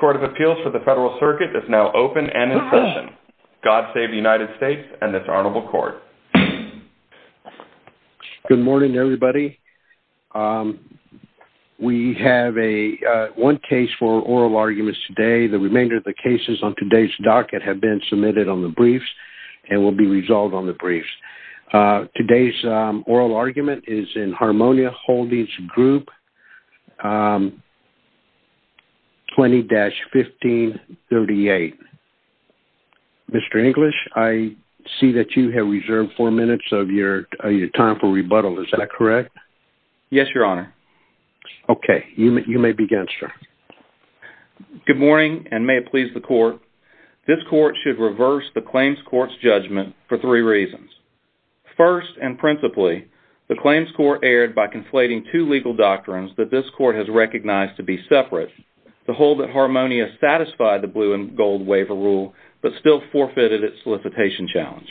Court of Appeals for the Federal Circuit is now open and in session. God save the United States and this honorable court. Good morning, everybody. We have one case for oral arguments today. The remainder of the cases on today's docket have been submitted on the briefs and will be resolved on the briefs. Today's oral argument is in Harmonia Holdings Group 20-1538. Mr. English, I see that you have reserved four minutes of your time for rebuttal. Is that correct? Yes, your honor. Okay. You may begin, sir. Good morning and may it please the court. This court should reverse the claims court's judgment for three reasons. First and principally, the claims court erred by conflating two legal doctrines that this court has recognized to be separate. The hold at Harmonia satisfied the blue and gold waiver rule but still forfeited its solicitation challenge.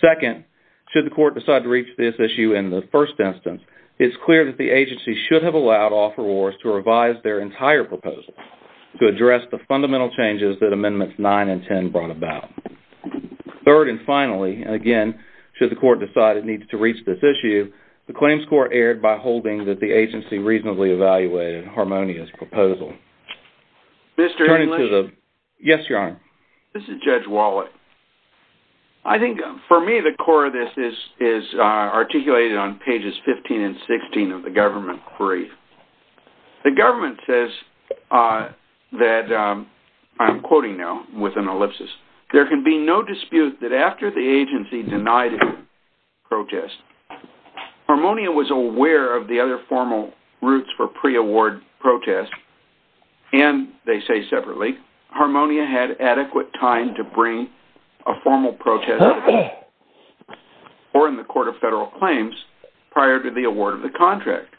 Second, should the court decide to reach this issue in the first instance, it's clear that the agency should have allowed offerors to revise their entire proposal to address the fundamental changes that Amendments 9 and 10 brought about. Third and finally, again, should the court decide it needs to reach this issue, the claims court erred by holding that the agency reasonably evaluated Harmonia's proposal. Mr. English? Yes, your honor. This is Judge Wallet. I think for me the core of this is articulated on pages 15 and 16 of the government brief. The government says that, I'm quoting now with an ellipsis, there can be no dispute that after the agency denied it protest, Harmonia was aware of the other formal routes for pre-award protest and they say separately, Harmonia had adequate time to bring a formal protest or in the court of federal claims prior to the award of the contract.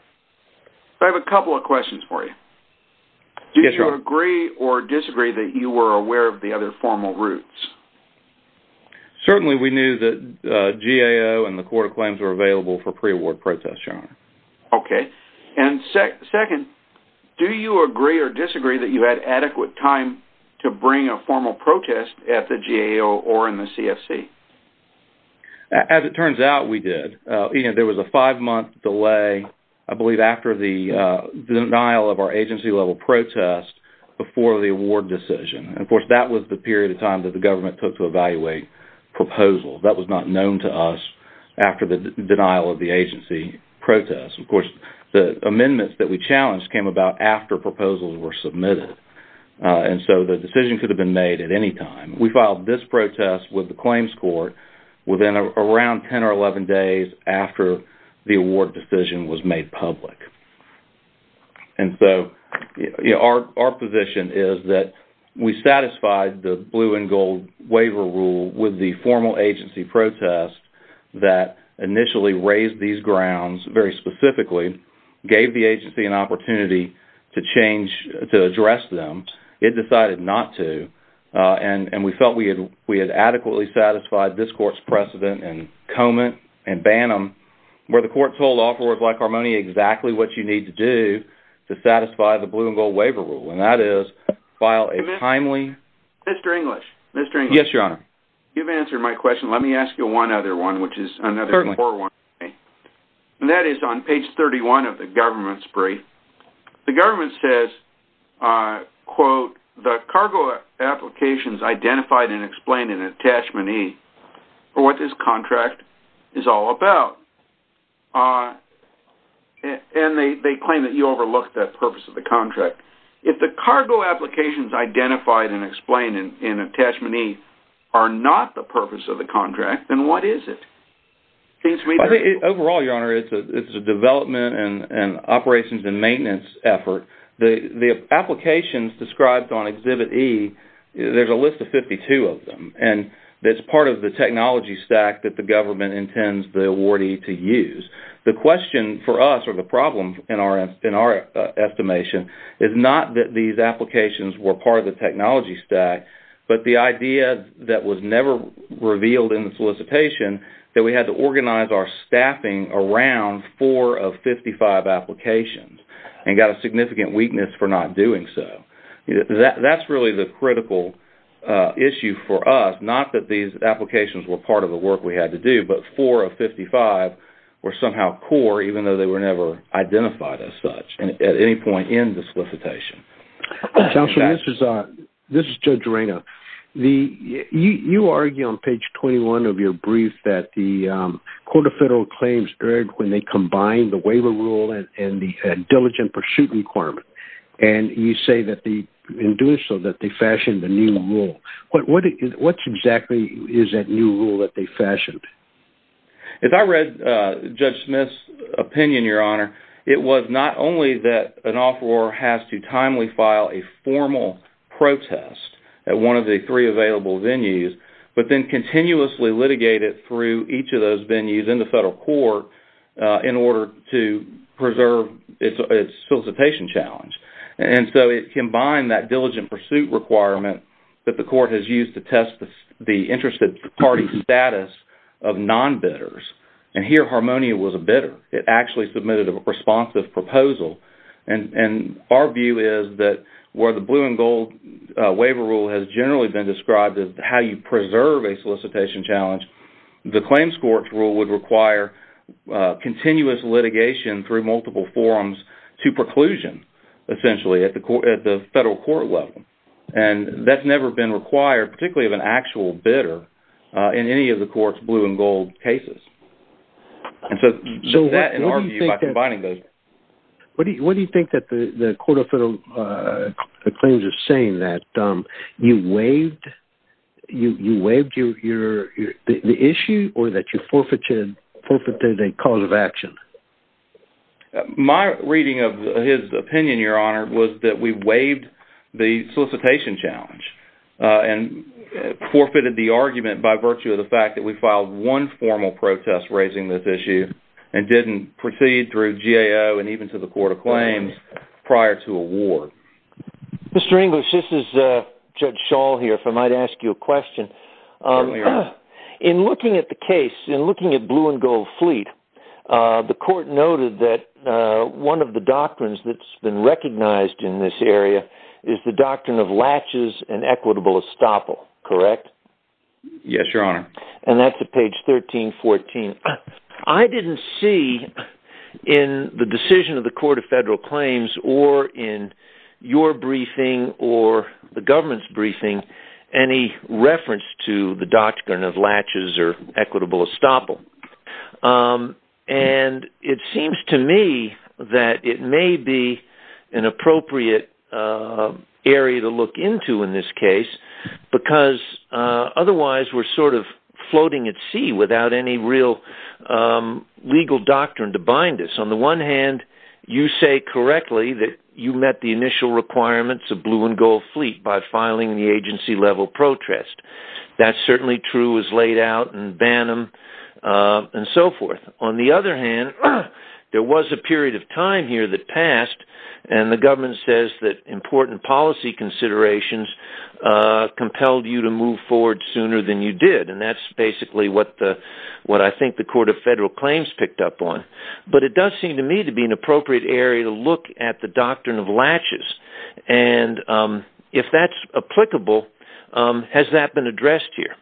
I have a couple of questions for you. Do you agree or disagree that you were aware of the other formal routes? Certainly we knew that GAO and the court of claims were available for pre-award protest, your honor. Okay. Second, do you agree or disagree that you had adequate time to bring a formal protest at the GAO or in the CFC? As it turns out, we did. There was a five-month delay, I believe after the denial of our agency-level protest before the award decision. Of course, that was the period of time that the government took to evaluate proposals. That was not known to us after the denial of the agency protest. Of course, the amendments that we challenged came about after proposals were submitted. The decision could have been made at any time. We filed this protest with the claims court within around 10 or 11 days after the award decision was made public. Our position is that we satisfied the blue and gold waiver rule with the formal agency protest that initially raised these grounds very specifically, gave the agency an opportunity to address them. It decided not to. We felt we had adequately satisfied this court's precedent in Comet and Bantam, where the court told offerors like Armoni exactly what you need to do to satisfy the blue and gold waiver rule. That You've answered my question. Let me ask you one other one, which is another 401k. That is on page 31 of the government's brief. The government says, quote, the cargo applications identified and explained in attachment E are what this contract is all about. They claim that you overlooked that purpose of the contract. If the cargo applications identified and explained in attachment E are not the purpose of the contract, then what is it? Overall, Your Honor, it's a development and operations and maintenance effort. The applications described on exhibit E, there's a list of 52 of them. It's part of the technology stack that the government intends the awardee to use. The question for us, or the problem in our estimation, is not that these applications were part of the technology stack, but the idea that was never revealed in the solicitation that we had to organize our staffing around four of 55 applications and got a significant weakness for not doing so. That's really the critical issue for us, not that these applications were part of the work we had to do, but four of 55 were somehow core, even though they were never identified as such at any point in the solicitation. This is Judge Reina. You argue on page 21 of your brief that the Court of Federal Claims erred when they combined the waiver rule and the diligent pursuit requirement. You say that in doing so that they fashioned the new rule. What exactly is that new rule that they fashioned? If I read Judge Smith's opinion, Your Honor, it was not only that an offeror has to timely file a formal protest at one of the three available venues, but then continuously litigate it through each of those venues in the federal court in order to preserve its solicitation challenge. It combined that diligent pursuit requirement that the court has used to test the interested party's status of non-bidders. Here, Harmonia was a bidder. It actually submitted a responsive proposal. Our view is that where the blue and gold waiver rule has generally been described as how you preserve a solicitation challenge, the claims court's rule would require continuous litigation through multiple forums to preclusion, essentially, at the federal court level. That's never been required, particularly of an actual bidder, in any of the court's blue and gold cases. What do you think the Court of Federal Claims is saying? That you waived the issue or that you forfeited a cause of action? My reading of his opinion, Your Honor, was that we waived the solicitation challenge and forfeited the argument by virtue of the fact that we filed one formal protest raising this issue and didn't proceed through GAO and even to the Court of Claims prior to award. Mr. English, this is Judge Schall here, if I might ask you a question. Certainly, Your Honor. In looking at the case, in looking at blue and gold fleet, the Court noted that one of the doctrines that's been recognized in this area is the doctrine of latches and equitable estoppel, correct? Yes, Your Honor. And that's at page 1314. I didn't see in the decision of the Court of Federal Claims or in your briefing or the government's briefing any reference to the doctrine of latches or equitable estoppel. And it seems to me that it may be an appropriate area to look into in this case because otherwise we're sort of floating at sea without any real legal doctrine to bind us. On the one hand, you say correctly that you met the initial requirements of blue and gold fleet by filing the agency-level protest. That's certainly true as laid out in Banham and so forth. On the other hand, there was a period of time here that passed and the government says that important policy considerations compelled you to move forward sooner than you did, and that's basically what I think the Court of Federal Claims picked up on. But it does seem to me to be an appropriate area to look at the doctrine of latches. And if that's applicable, has that been addressed here?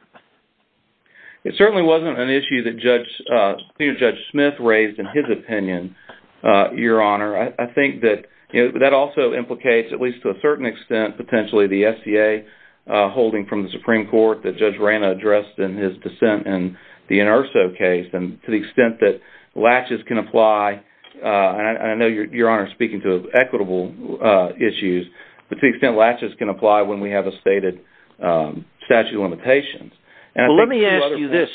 It certainly wasn't an issue that Judge Smith raised in his opinion, Your Honor. I think that also implicates, at least to a certain extent, potentially the SCA holding from the Supreme Court that Judge Rana addressed in his dissent in the Inerso case. And to the extent that latches can apply, and I know Your Honor is speaking to equitable issues, but to the extent latches can apply when we have a stated statute of limitations. Let me ask you this.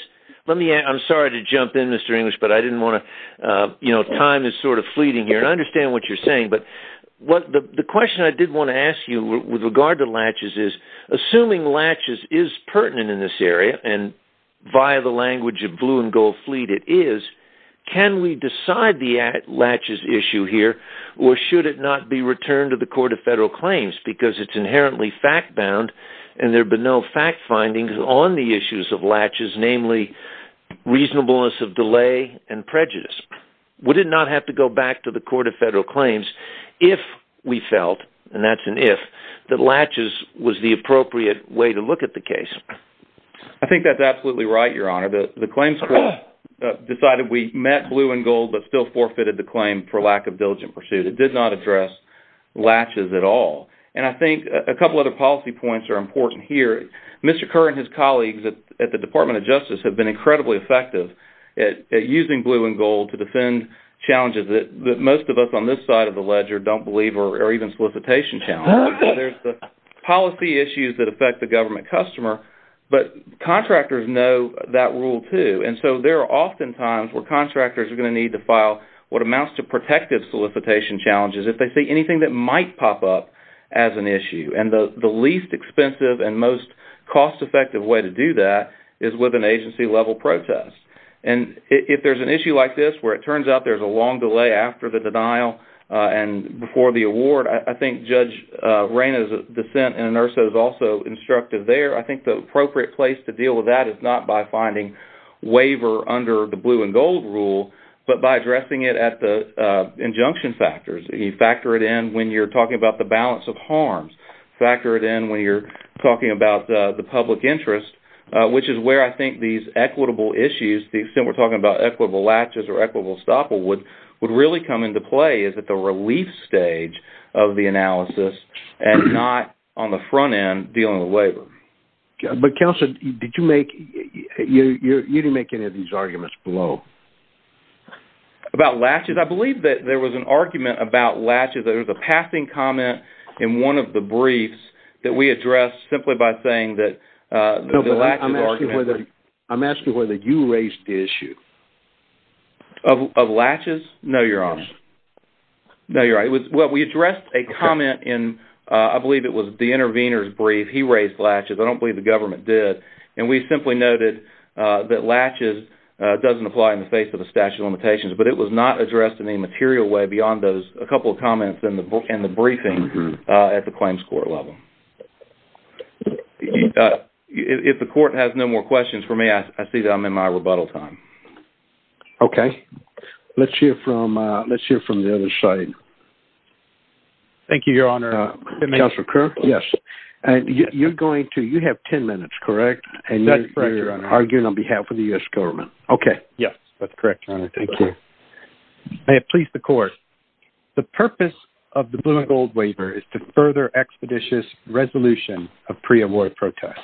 I'm sorry to jump in, Mr. English, but time is sort of fleeting here, and I understand what you're saying. But the question I did want to ask you with regard to latches is, assuming latches is pertinent in this area, and via the language of blue and gold fleet it is, can we decide the latches issue here, or should it not be returned to the Court of Federal Claims? Because it's inherently fact-bound, and there have been no fact findings on the issues of latches, namely reasonableness of delay and prejudice. Would it not have to go back to the Court of Federal Claims if we felt, and that's an if, that latches was the appropriate way to look at the case? I think that's absolutely right, Your Honor. The Claims Court decided we met blue and gold, but still forfeited the claim for lack of diligent pursuit. It did not address latches at all. And I think a couple other policy points are important here. Mr. Kerr and his colleagues at the Department of Justice have been incredibly effective at using blue and gold to defend challenges that most of us on this side of the ledger don't believe, or even solicitation challenges. There's the policy issues that affect the government customer, but contractors know that rule, too. And so there are often times where contractors are going to need to file what amounts to protective solicitation challenges if they see anything that might pop up as an issue. And the least expensive and most cost-effective way to do that is with an agency level protest. And if there's an issue like this where it turns out there's a long delay after the denial and before the award, I think Judge Reyna's dissent in Inerso is also instructive there. I think it's not by finding waiver under the blue and gold rule, but by addressing it at the injunction factors. You factor it in when you're talking about the balance of harms. Factor it in when you're talking about the public interest, which is where I think these equitable issues, the extent we're talking about equitable latches or equitable estoppel would really come into play is at the relief stage of the analysis and not on the front end dealing with waiver. But, Counselor, you didn't make any of these arguments below. About latches? I believe that there was an argument about latches. There was a passing comment in one of the briefs that we addressed simply by saying that the lack of argument... I'm asking whether you raised the issue. Of latches? No, Your Honor. No, Your Honor. Well, we addressed a comment in, I believe it was the intervener's brief. He raised latches. I don't believe the government did. We simply noted that latches doesn't apply in the face of the statute of limitations, but it was not addressed in any material way beyond those a couple of comments in the briefing at the claims court level. If the court has no more questions for me, I see that I'm in my rebuttal time. Okay. Let's hear from the other side. Thank you, Your Honor. Counselor Kerr? Yes. You're going to... You have 10 minutes, correct? That's correct, Your Honor. Arguing on behalf of the U.S. government. Okay. Yes, that's correct, Your Honor. Thank you. May it please the court, the purpose of the Blumengold waiver is to further expeditious resolution of pre-award protests.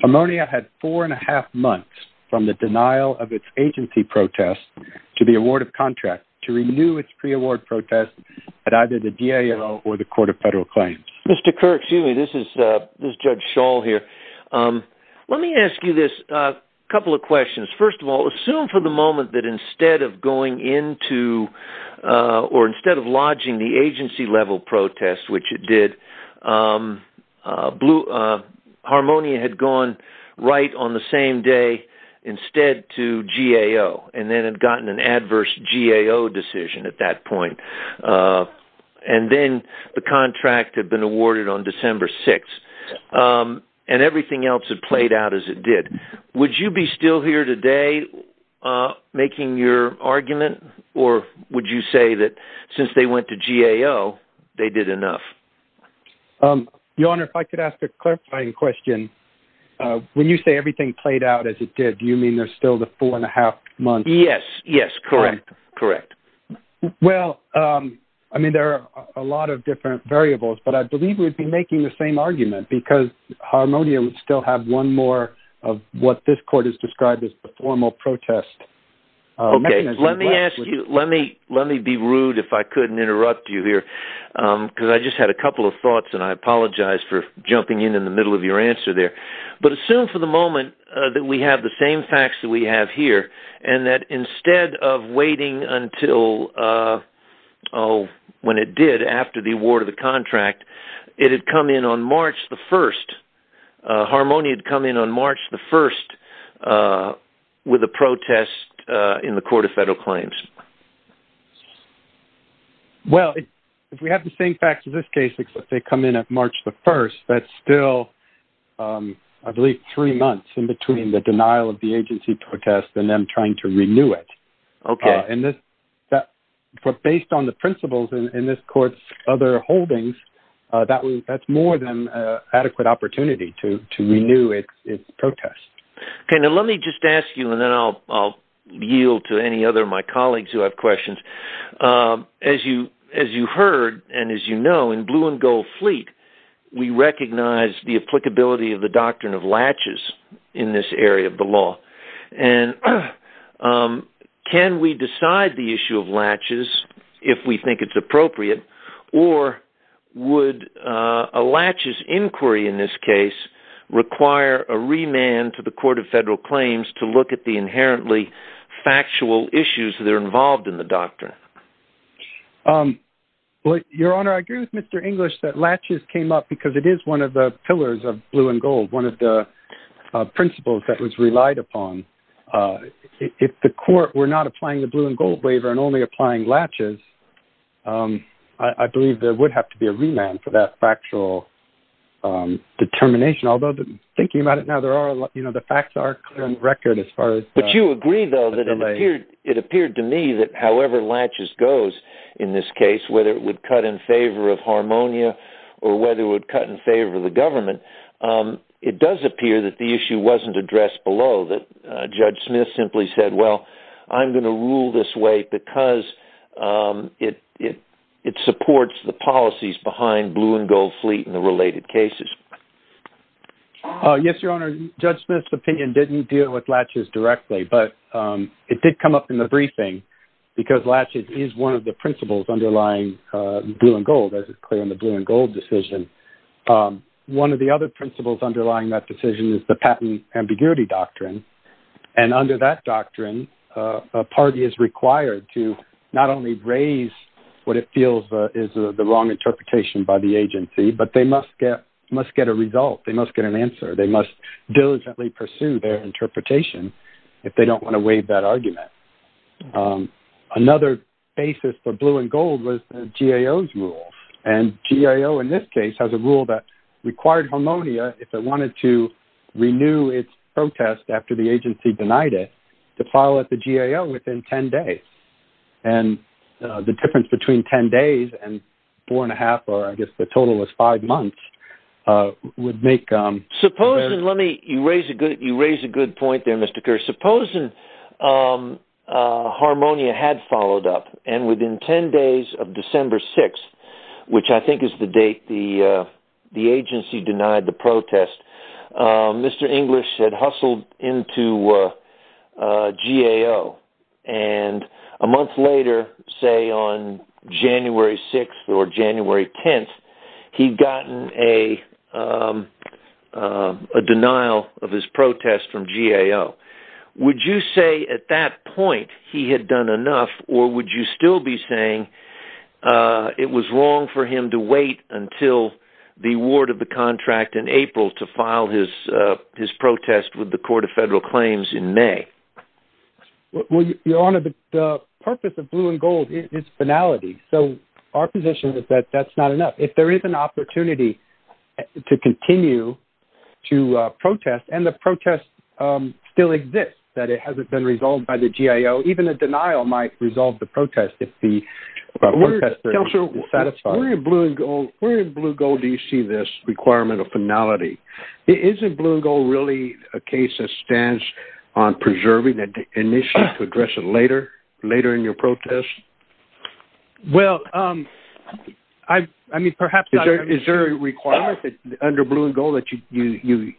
Pomona had four and a half months from the denial of its agency protest to the award of contract to renew its pre-award protest at either the GAO or the Court of Federal Claims. Mr. Kerr, excuse me, this is Judge Schall here. Let me ask you this, a couple of questions. First of all, assume for the moment that instead of going into or instead of lodging the agency level protest, which it did, Blue... Harmonia had gone right on the same day instead to GAO and then had gotten an adverse GAO decision at that point. And then the contract had been awarded on December 6th and everything else had played out as it did. Would you be still here today making your argument or would you say that since they went to GAO, they did enough? Your Honor, if I could ask a clarifying question, when you say everything played out as it did, you mean there's still the four and a half months? Yes. Yes. Correct. Correct. Well, I mean, there are a lot of different variables, but I believe we'd be making the same argument because Harmonia would still have one more of what this court has described as the formal protest. Okay. Let me ask you, let me be rude if I couldn't interrupt you here, because I just had a couple of thoughts and I apologize for jumping in in the middle of your answer there. But assume for the moment that we have the same facts that we have here and that instead of waiting until, oh, when it did after the award of the contract, it had come in on March the 1st. Harmonia had come in on March the 1st with a protest in the Court of Federal Claims. Well, if we have the same facts in this case, except they come in at March the 1st, that's still, I believe, three months in between the denial of the agency protest and them trying to renew it. Okay. And based on the principles in this court's other holdings, that's more than an adequate opportunity to renew its protest. Okay. Now, let me just ask you, and then I'll yield to any other of my colleagues who have questions, as you heard and as you know, in Blue and Gold Fleet, we recognize the applicability of the doctrine of latches in this area of the law. And can we decide the issue of latches if we think it's appropriate, or would a latches inquiry in this case require a remand to the Court of Federal Claims to look at the inherently factual issues that are involved in the doctrine? Well, Your Honor, I agree with Mr. English that latches came up because it is one of the pillars of Blue and Gold, one of the principles that was relied upon. If the Court were not applying the Blue and Gold waiver and only applying latches, I believe there would have to be a remand for that factual determination. Although, thinking about it now, there are a lot, you know, the facts are clear on the record as far as... But you agree, though, that it appeared to me that however latches goes in this case, whether it would cut in favor of harmonia or whether it would cut in favor of the government, it does appear that the issue wasn't addressed below, that Judge Smith simply said, well, I'm going to rule this way because it supports the policies behind Blue and Gold Fleet and the related cases. Yes, Your Honor, Judge Smith's opinion didn't deal with latches directly, but it did come up in the briefing because latches is one of the principles underlying Blue and Gold, as is clear in the Blue and Gold decision. One of the other principles underlying that decision is the patent ambiguity doctrine. And under that doctrine, a party is required to not only raise what it feels is the wrong interpretation by the agency, but they must get a result. They must get an answer. They must diligently pursue their interpretation if they don't want to waive that argument. Another basis for Blue and Gold was the GAO's rule. And GAO, in this case, has a rule that required harmonia, if it wanted to renew its protest after the agency denied it, to file at the GAO within 10 days. And the difference between 10 days and four and a half, or I guess the total was five months, would make... Supposing, let me... You raise a good point there, Mr. Kerr. Supposing harmonia had followed up, and within 10 days of December 6th, which I think is the date the agency denied the protest, Mr. English had hustled into GAO. And a month later, say on January 6th or January 10th, he'd gotten a denial of his protest from GAO. Would you say at that point he had done enough, or would you still be saying it was wrong for him to wait until the award of the contract in April to file his protest with the Court of Federal Claims in May? Well, Your Honor, the purpose of blue and gold is finality. So our position is that that's not enough. If there is an opportunity to continue to protest, and the protest still exists, that it hasn't been resolved by the GAO, even a denial might resolve the protest if the protestor is satisfied. Where in blue and gold do you see this requirement of finality? Isn't blue and gold really a case that stands on preserving the initiative to address it later in your protest? Well, I mean, perhaps not. Is there a requirement under blue and gold that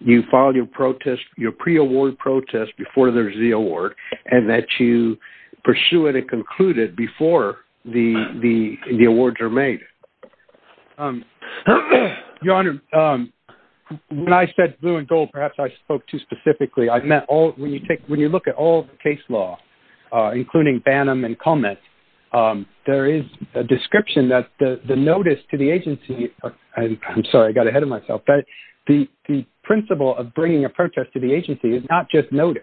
you file your pre-award protest before there's the award, and that you pursue it and conclude it before the awards are made? Your Honor, when I said blue and gold, perhaps I spoke too specifically. I meant when you look at all the case law, including Bannum and Cummins, there is a description that the notice to the agency—I'm sorry, I got ahead of myself—the principle of bringing a protest to the agency is not just notice.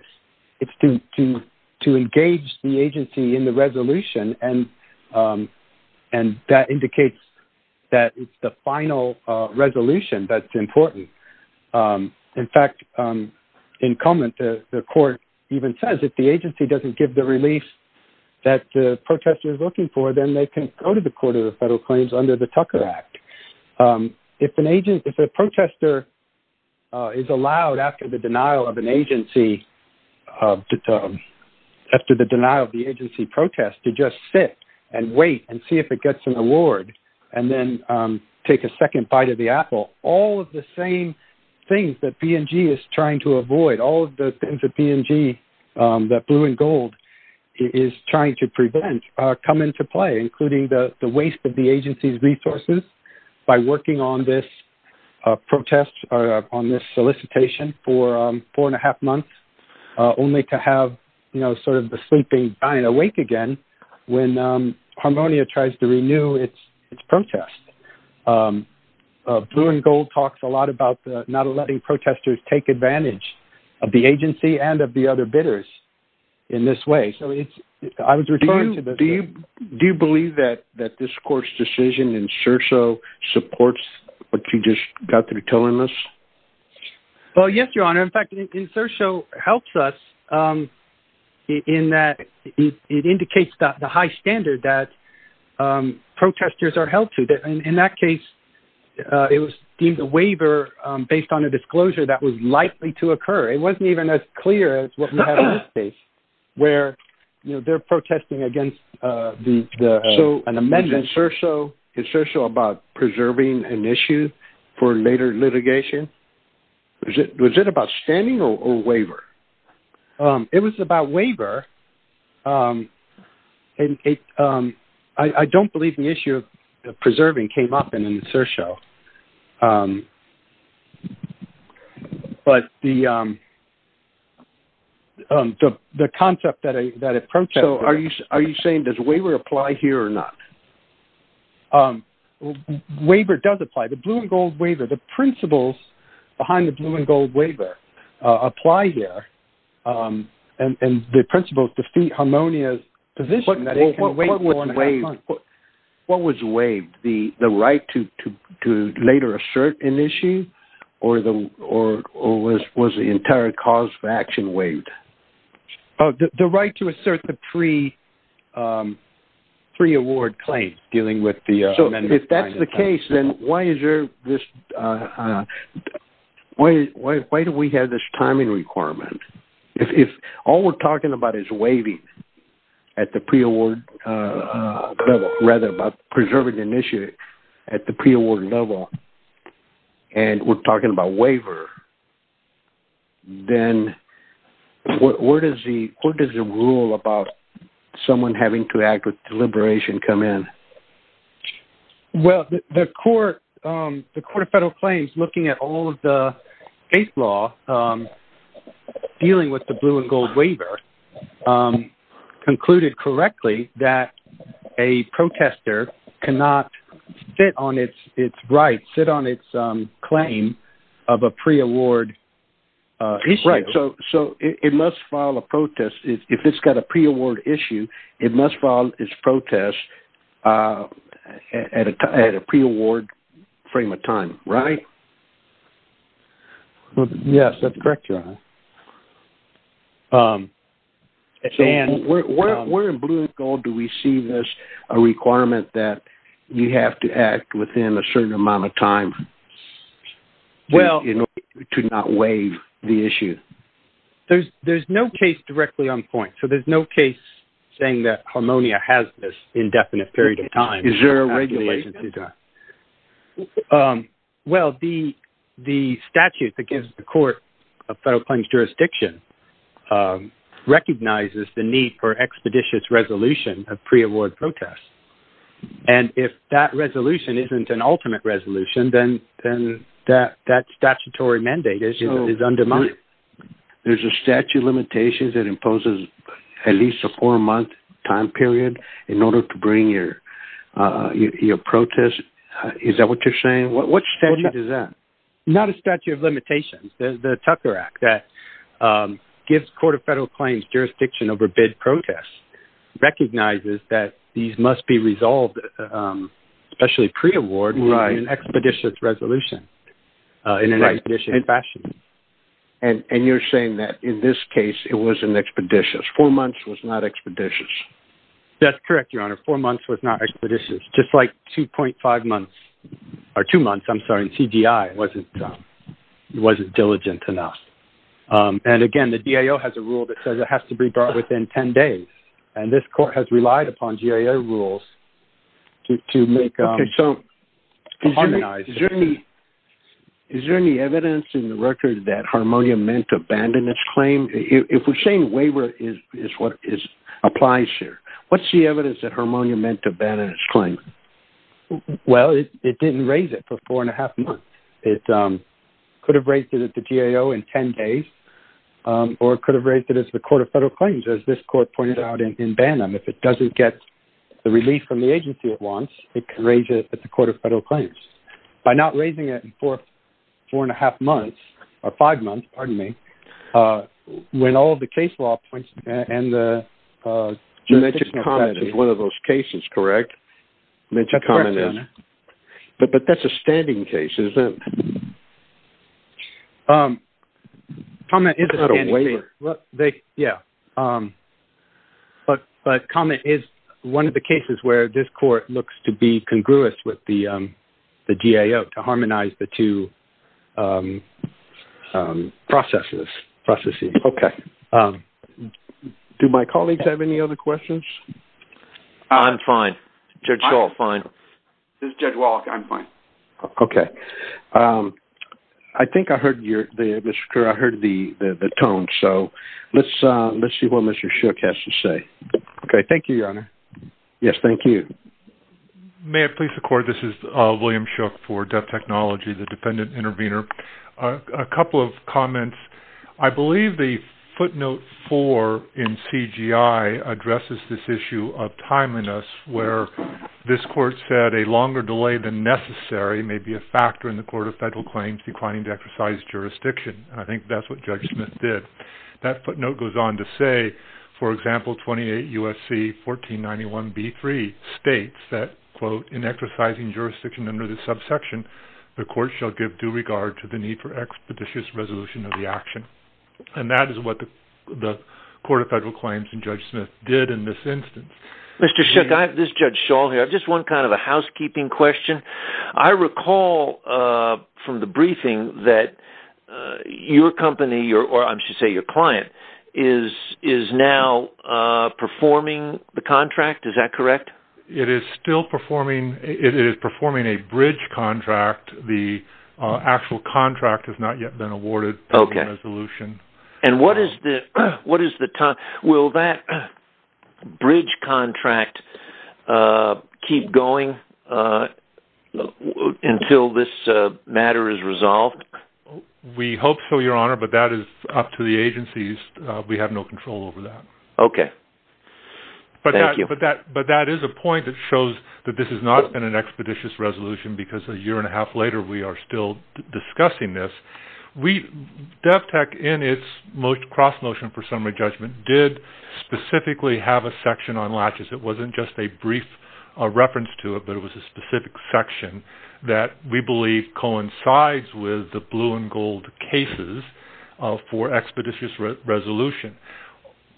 It's to engage the agency in the resolution, and that indicates that it's the final resolution that's important. In fact, in Cummins, the court even says if the agency doesn't give the release that the protestor is looking for, then they can go to the Court of Federal Claims under the Tucker Act. If a protestor is allowed, after the denial of the agency protest, to just sit and wait and see if it gets an award, and then take a second bite of the apple, all of the same things that B&G is trying to avoid, all of the things that B&G, that blue and gold, is trying to prevent come into play, including the waste of the agency's resources by working on this protest or on this solicitation for four and a half months, only to have, you know, sort of the sleeping dying awake again when Harmonia tries to renew its protest. B&G talks a lot about not letting protestors take advantage of the agency and of the other bidders in this way. I was referring to this. Do you believe that this court's decision in SIRSO supports what you just got through telling us? Well, yes, Your Honor. In fact, SIRSO helps us in that it indicates the high standard that protestors are held to. In that case, it was deemed a waiver based on a disclosure that was likely to occur. It wasn't even as clear as what we have in this case, where, you know, they're protesting against an amendment. So is SIRSO about preserving an issue for later litigation? Was it about standing or waiver? It was about waiver. I don't believe the issue of preserving came up in the SIRSO. But the concept that approached... So are you saying does waiver apply here or not? Waiver does apply. The Blue and Gold Waiver, the principles behind the Blue and Gold Waiver apply here. And the principles defeat Harmonia's position that it can wait more than half a month. What was waived? The right to later assert an issue or was the entire cause of action waived? The right to assert the pre-award claim dealing with the amendment. So if that's the case, then why is there this... Why do we have this timing requirement? If all we're talking about is waiving at the pre-award level, rather about preserving an issue at the pre-award level, and we're talking about waiver, then what is the rule about someone having to act with deliberation come in? Well, the Court of Federal Claims, looking at all of the eighth law dealing with the Blue and Gold Waiver, concluded correctly that a protester cannot sit on its right, sit on its claim of a pre-award issue. Right. So it must file a protest. If it's got a pre-award issue, it must file its protest at a pre-award frame of time, right? Yes, that's correct, Your Honor. Where in Blue and Gold do we see this requirement that you have to act within a certain amount of time to not waive the issue? There's no case directly on point. So there's no case saying that Harmonia has this indefinite period of time. Is there a regulation? Well, the statute that gives the Court of Federal Claims jurisdiction recognizes the need for expeditious resolution of pre-award protests. And if that resolution isn't an ultimate resolution, then that statutory mandate is undermined. There's a statute of limitations that imposes at least a four-month time period in order to bring your protest. Is that what you're saying? What statute is that? Not a statute of limitations. The Tucker Act that gives the Court of Federal Claims jurisdiction over bid protests recognizes that these must be resolved, especially pre-award, in an expeditious resolution. In an expeditious fashion. And you're saying that in this case, it was an expeditious. Four months was not expeditious. That's correct, Your Honor. Four months was not expeditious. Just like 2.5 months, or two months, I'm sorry, in CGI wasn't diligent enough. And again, the DAO has a rule that says it has to be brought within 10 days. And this Court has relied upon DAO rules to harmonize. Is there any evidence in the record that harmonia meant to abandon its claim? If we're saying waiver is what applies here, what's the evidence that harmonia meant to abandon its claim? Well, it didn't raise it for four and a half months. It could have raised it at the DAO in 10 days, or it could have raised it at the Court of Federal Claims, as this Court pointed out in Banham. If it doesn't get the relief from the agency it wants, it can raise it at the Court of Federal Claims. By not raising it for four and a half months, or five months, pardon me, when all of the case law points, and the... You mentioned comments as one of those cases, correct? That's correct, Your Honor. But that's a standing case, isn't it? Comment is a standing case. It's not a waiver. Yeah. But comment is one of the cases where this Court looks to be congruous with the DAO to harmonize the two processes, processes. Okay. Do my colleagues have any other questions? I'm fine. Judge Hall, fine. This is Judge Wallach. I'm fine. Okay. I think I heard you, Mr. Kerr. I heard the tone. So let's see what Mr. Shook has to say. Okay. Thank you, Your Honor. Yes, thank you. May it please the Court? This is William Shook for Deaf Technology, the dependent intervener. A couple of comments. I believe the footnote four in CGI addresses this issue of timeliness, where this Court said a longer delay than necessary may be a factor in the Court of Federal Claims declining to exercise jurisdiction. I think that's what Judge Smith did. That footnote goes on to say, for example, 28 U.S.C. 1491b3 states that, quote, in exercising jurisdiction under this subsection, the Court shall give due regard to the need for expeditious resolution of the action. And that is what the Court of Federal Claims and Judge Smith did in this instance. Mr. Shook, this is Judge Shull here. I have just one kind of a housekeeping question. I recall from the briefing that your company, or I should say your client, is now performing the contract. Is that correct? It is still performing. It is performing a bridge contract. The actual contract has not yet been awarded. Okay. And what is the time? Will that bridge contract keep going until this matter is resolved? We hope so, Your Honor, but that is up to the agencies. We have no control over that. Okay. Thank you. But that is a point that shows that this has not been an expeditious resolution because a year and a half later we are still discussing this. We, DevTech, in its cross-motion for summary judgment, did specifically have a section on latches. It was not just a brief reference to it, but it was a specific section that we believe coincides with the blue and gold cases for expeditious resolution.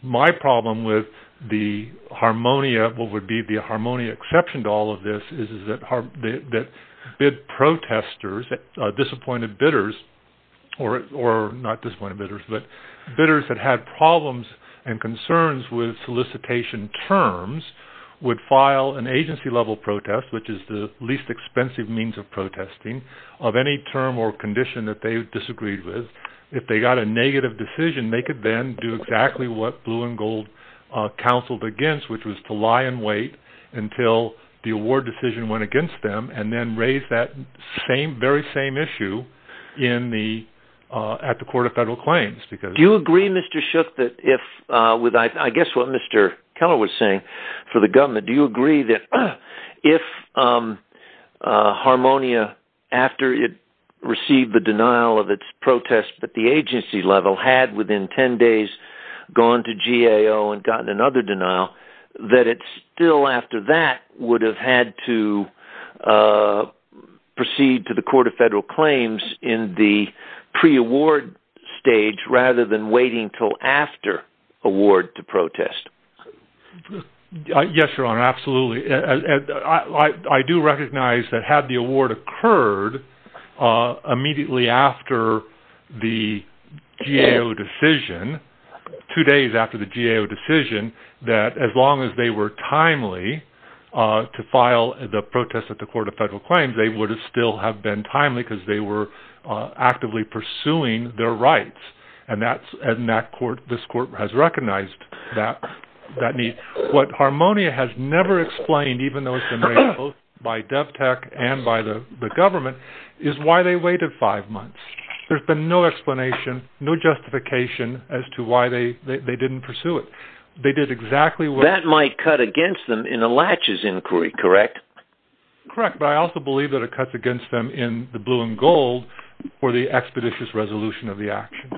My problem with the harmonia, what would be the harmonia exception to all of this, is that bid protestors, disappointed bidders, or not disappointed bidders, but bidders that had problems and concerns with solicitation terms would file an agency-level protest, which is the least expensive means of protesting, of any term or condition that they disagreed with. If they got a negative decision, they could then do exactly what blue and gold counseled against, which was to lie and wait until the award decision went against them and then raise that very same issue at the Court of Federal Claims. Do you agree, Mr. Shook, that if, I guess what Mr. Keller was saying, for the government, do you agree that if harmonia, after it received the denial of its protest at the agency level, had, within 10 days, gone to GAO and gotten another denial, that it still, after that, would have had to proceed to the Court of Federal Claims in the pre-award stage rather than waiting until after award to protest? Yes, Your Honor, absolutely. I do recognize that had the award occurred immediately after the GAO decision, two days after the GAO decision, that as long as they were timely to file the protest at the Court of Federal Claims, they would still have been timely because they were actively pursuing their rights, and this Court has recognized that need. What harmonia has never explained, even though it's been raised both by DevTech and by the government, is why they waited five months. There's been no explanation, no justification as to why they didn't pursue it. They did exactly what... That might cut against them in a laches inquiry, correct? Correct, but I also believe that it cuts against them in the blue and gold for the expeditious resolution of the action.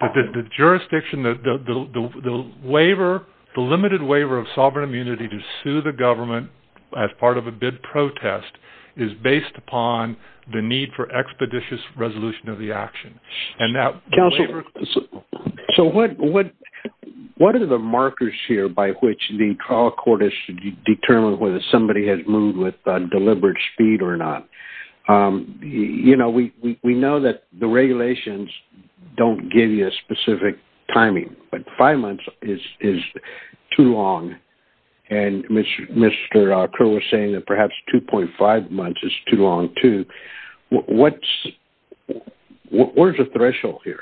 But the jurisdiction, the waiver, the limited waiver of sovereign immunity to sue the government as part of a bid protest is based upon the need for expeditious resolution of the action, and that waiver... Counsel, so what are the markers here by which the trial court is to determine whether somebody has moved with deliberate speed or not? You know, we know that the regulations don't give you a specific timing, but five months is too long, and Mr. Kerr was saying that perhaps 2.5 months is too long, too. What is the threshold here?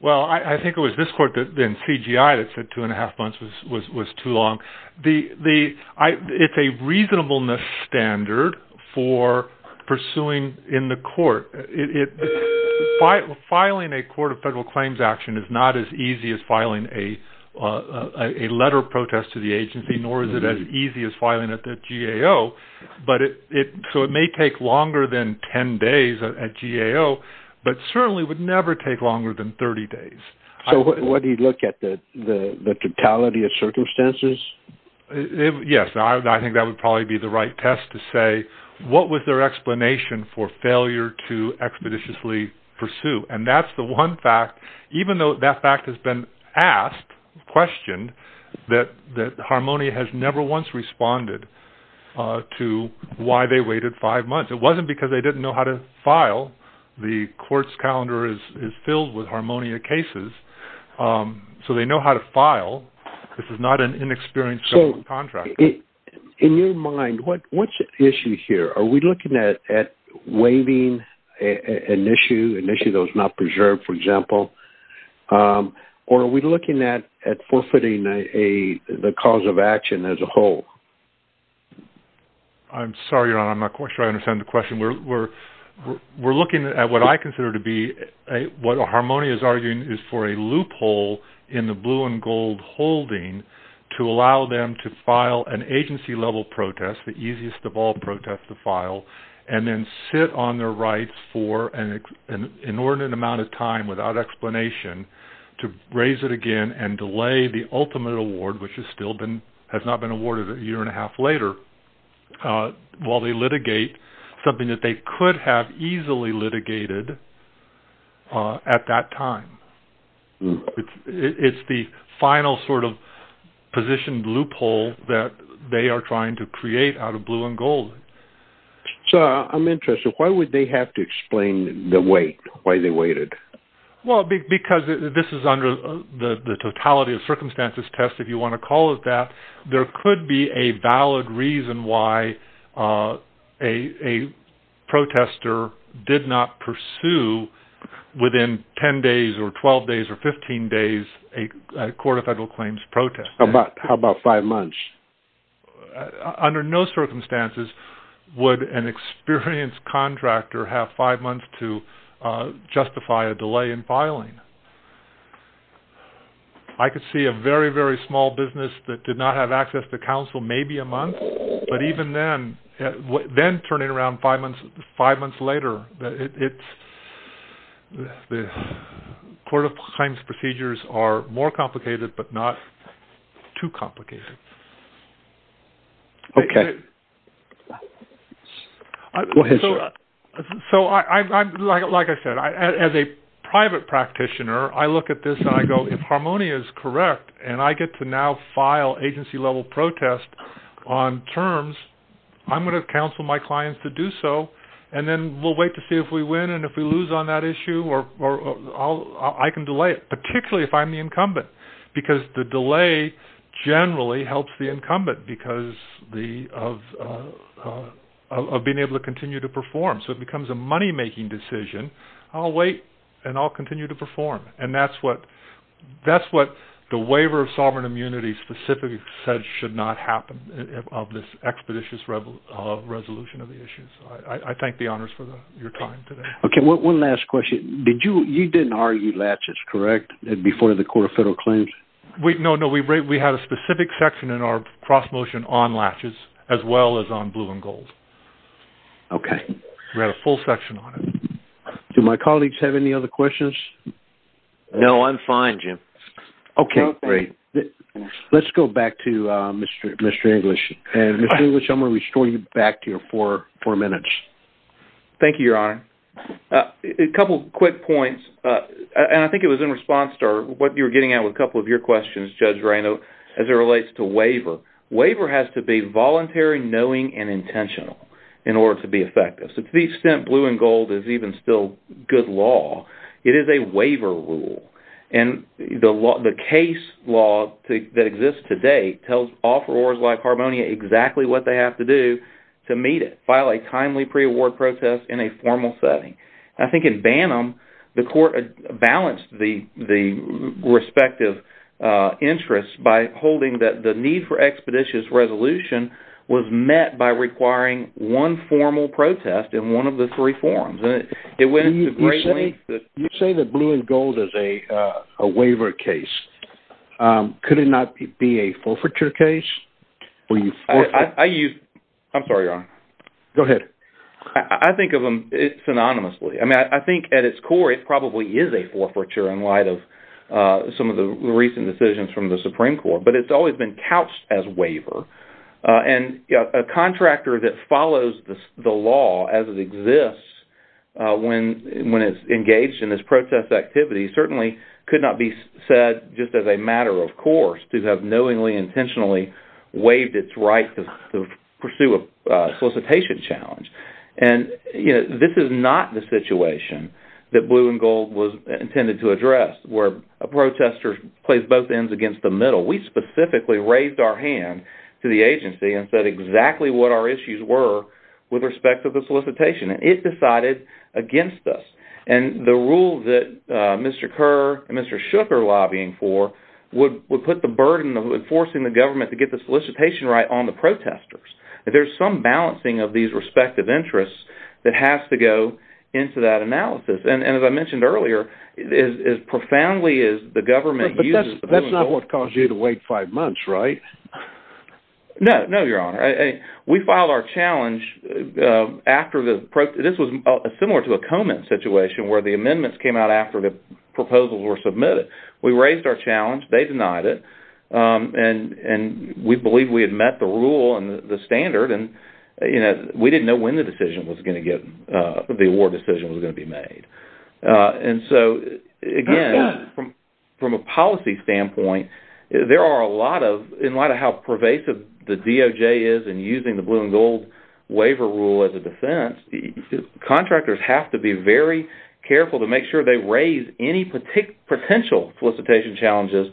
Well, I think it was this court, then CGI, that said two and a half months was too long. The... It's a reasonableness standard for pursuing in the court. Filing a court of federal claims action is not as easy as filing a letter of protest to the agency, nor is it as easy as filing at the GAO, but it... So it may take longer than 10 days at GAO, but certainly would never take longer than 30 days. So what do you look at, the totality of circumstances? Yes, I think that would probably be the right test to say, what was their explanation for failure to expeditiously pursue? And that's the one fact, even though that fact has been asked, questioned, that Harmonia has never once responded to why they waited five months. The court's calendar is filled with Harmonia cases, so they know how to file. This is not an inexperienced government contractor. In your mind, what's at issue here? Are we looking at waiving an issue, an issue that was not preserved, for example? Or are we looking at forfeiting the cause of action as a whole? I'm sorry, Your Honor, I'm not sure I understand the question. We're looking at what I consider to be... What Harmonia is arguing is for a loophole in the blue and gold holding to allow them to file an agency-level protest, the easiest of all protests to file, and then sit on their rights for an inordinate amount of time without explanation to raise it again and delay the ultimate award, which has still been... While they litigate, something that they could have easily litigated at that time. It's the final sort of positioned loophole that they are trying to create out of blue and gold. So I'm interested, why would they have to explain the wait, why they waited? Well, because this is under the totality of circumstances test, if you want to call it that, there could be a valid reason why a protester did not pursue within 10 days or 12 days or 15 days a court of federal claims protest. How about five months? Under no circumstances would an experienced contractor have five months to justify a delay in filing. I could see a very, very small business that did not have access to counsel, maybe a month, but even then, then turning around five months later, the court of claims procedures are more complicated, but not too complicated. Okay. Go ahead, sir. So like I said, as a private practitioner, I look at this and I go, if Harmonia is correct and I get to now file agency level protest on terms, I'm going to counsel my clients to do so. And then we'll wait to see if we win. And if we lose on that issue, I can delay it, particularly if I'm the incumbent, because the delay generally helps the incumbent because of being able to continue to perform. So it becomes a money-making decision. I'll wait and I'll continue to perform. And that's what the waiver of sovereign immunity specifically said should not happen of this expeditious resolution of the issues. I thank the honors for your time today. Okay. One last question. Did you, you didn't argue laches, correct? Before the court of federal claims? No, no, we had a specific section in our cross motion on laches as well as on blue and gold. Okay. We had a full section on it. Do my colleagues have any other questions? No, I'm fine, Jim. Okay, great. Let's go back to Mr. English. And Mr. English, I'm going to restore you back to your four minutes. Thank you, Your Honor. A couple of quick points, and I think it was in response to what you were getting at with a couple of your questions, Judge Reynolds, as it relates to waiver. Waiver has to be voluntary, knowing, and intentional in order to be effective. So to the extent blue and gold is even still good law, it is a waiver rule. And the case law that exists today tells offerors like Harmonia exactly what they have to do to meet it, file a timely pre-award protest in a formal setting. I think in Banham, the court balanced the respective interests by holding that the need for expeditious resolution was met by requiring one formal protest in one of the three forms. You say that blue and gold is a waiver case. Could it not be a forfeiture case? I'm sorry, Your Honor. Go ahead. I think of them synonymously. I mean, I think at its core, it probably is a forfeiture in light of some of the recent decisions from the Supreme Court. But it's always been couched as waiver. And a contractor that follows the law as it exists when it's engaged in this protest activity certainly could not be said just as a matter of course to have knowingly, intentionally waived its right to pursue a solicitation challenge. And this is not the situation that blue and gold was intended to address, where a protester plays both ends against the middle. We specifically raised our hand to the agency and said exactly what our issues were with respect to the solicitation. And it decided against us. And the rule that Mr. Kerr and Mr. Shook are lobbying for would put the burden of enforcing the government to get the solicitation right on the protesters. There's some balancing of these respective interests that has to go into that analysis. And as I mentioned earlier, as profoundly as the government uses the blue and gold— But that's not what caused you to wait five months, right? No. No, Your Honor. We filed our challenge after the—this was similar to a comment situation where the amendments came out after the proposals were submitted. We raised our challenge. They denied it. And we believed we had met the rule and the standard. And we didn't know when the decision was going to get—the award decision was going to be made. And so, again, from a policy standpoint, there are a lot of—in light of how pervasive the DOJ is in using the blue and gold waiver rule as a defense, contractors have to be very careful to make sure they raise any potential solicitation challenges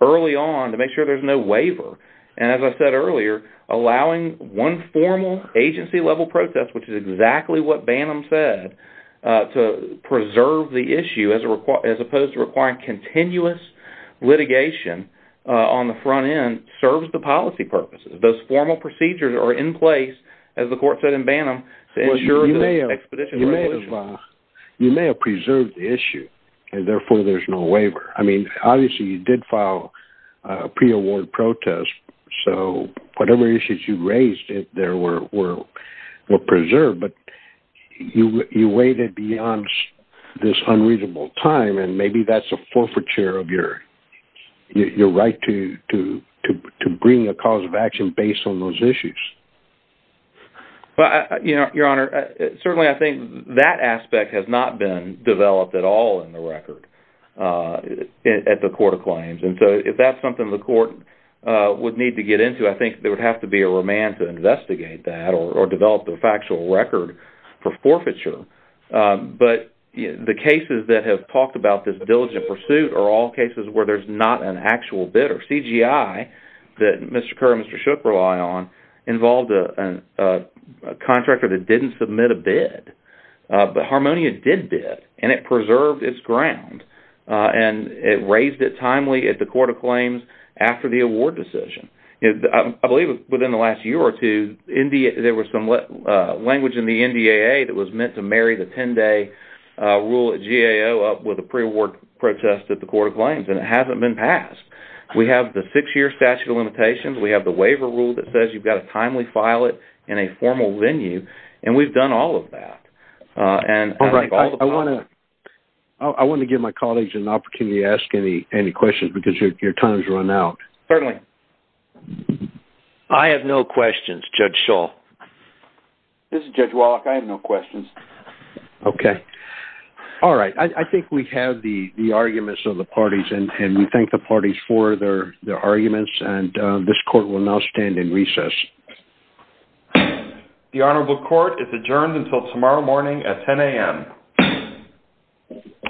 early on to make sure there's no waiver. And as I said earlier, allowing one formal agency-level protest, which is exactly what Bannum said, to preserve the issue as opposed to requiring continuous litigation on the front end serves the policy purposes. Those formal procedures are in place, as the court said in Bannum, to ensure the expedition resolution. You may have preserved the issue, and therefore there's no waiver. I mean, obviously, you did file a pre-award protest. So whatever issues you raised there were preserved, but you waited beyond this unreasonable time, and maybe that's a forfeiture of your right to bring a cause of action based on those issues. Well, you know, Your Honor, certainly I think that aspect has not been developed at all in the record at the court of claims. And so if that's something the court would need to get into, I think there would have to be a remand to investigate that or develop the factual record for forfeiture. But the cases that have talked about this diligent pursuit are all cases where there's not an actual bidder. CGI that Mr. Kerr and Mr. Shook rely on involved a contractor that didn't submit a bid. But Harmonia did bid, and it preserved its ground, and it raised it timely at the court of claims after the award decision. I believe within the last year or two, there was some language in the NDAA that was meant to marry the 10-day rule at GAO up with a pre-award protest at the court of claims, and it hasn't been passed. We have the six-year statute of limitations. We have the waiver rule that says you've got to timely file it in a formal venue, and we've done all of that. I want to give my colleagues an opportunity to ask any questions, because your time's run out. Certainly. I have no questions, Judge Shull. This is Judge Wallach. I have no questions. Okay. All right. I think we have the arguments of the parties, and we thank the parties for their arguments, and this court will now stand in recess. The Honorable Court is adjourned until tomorrow morning at 10 a.m.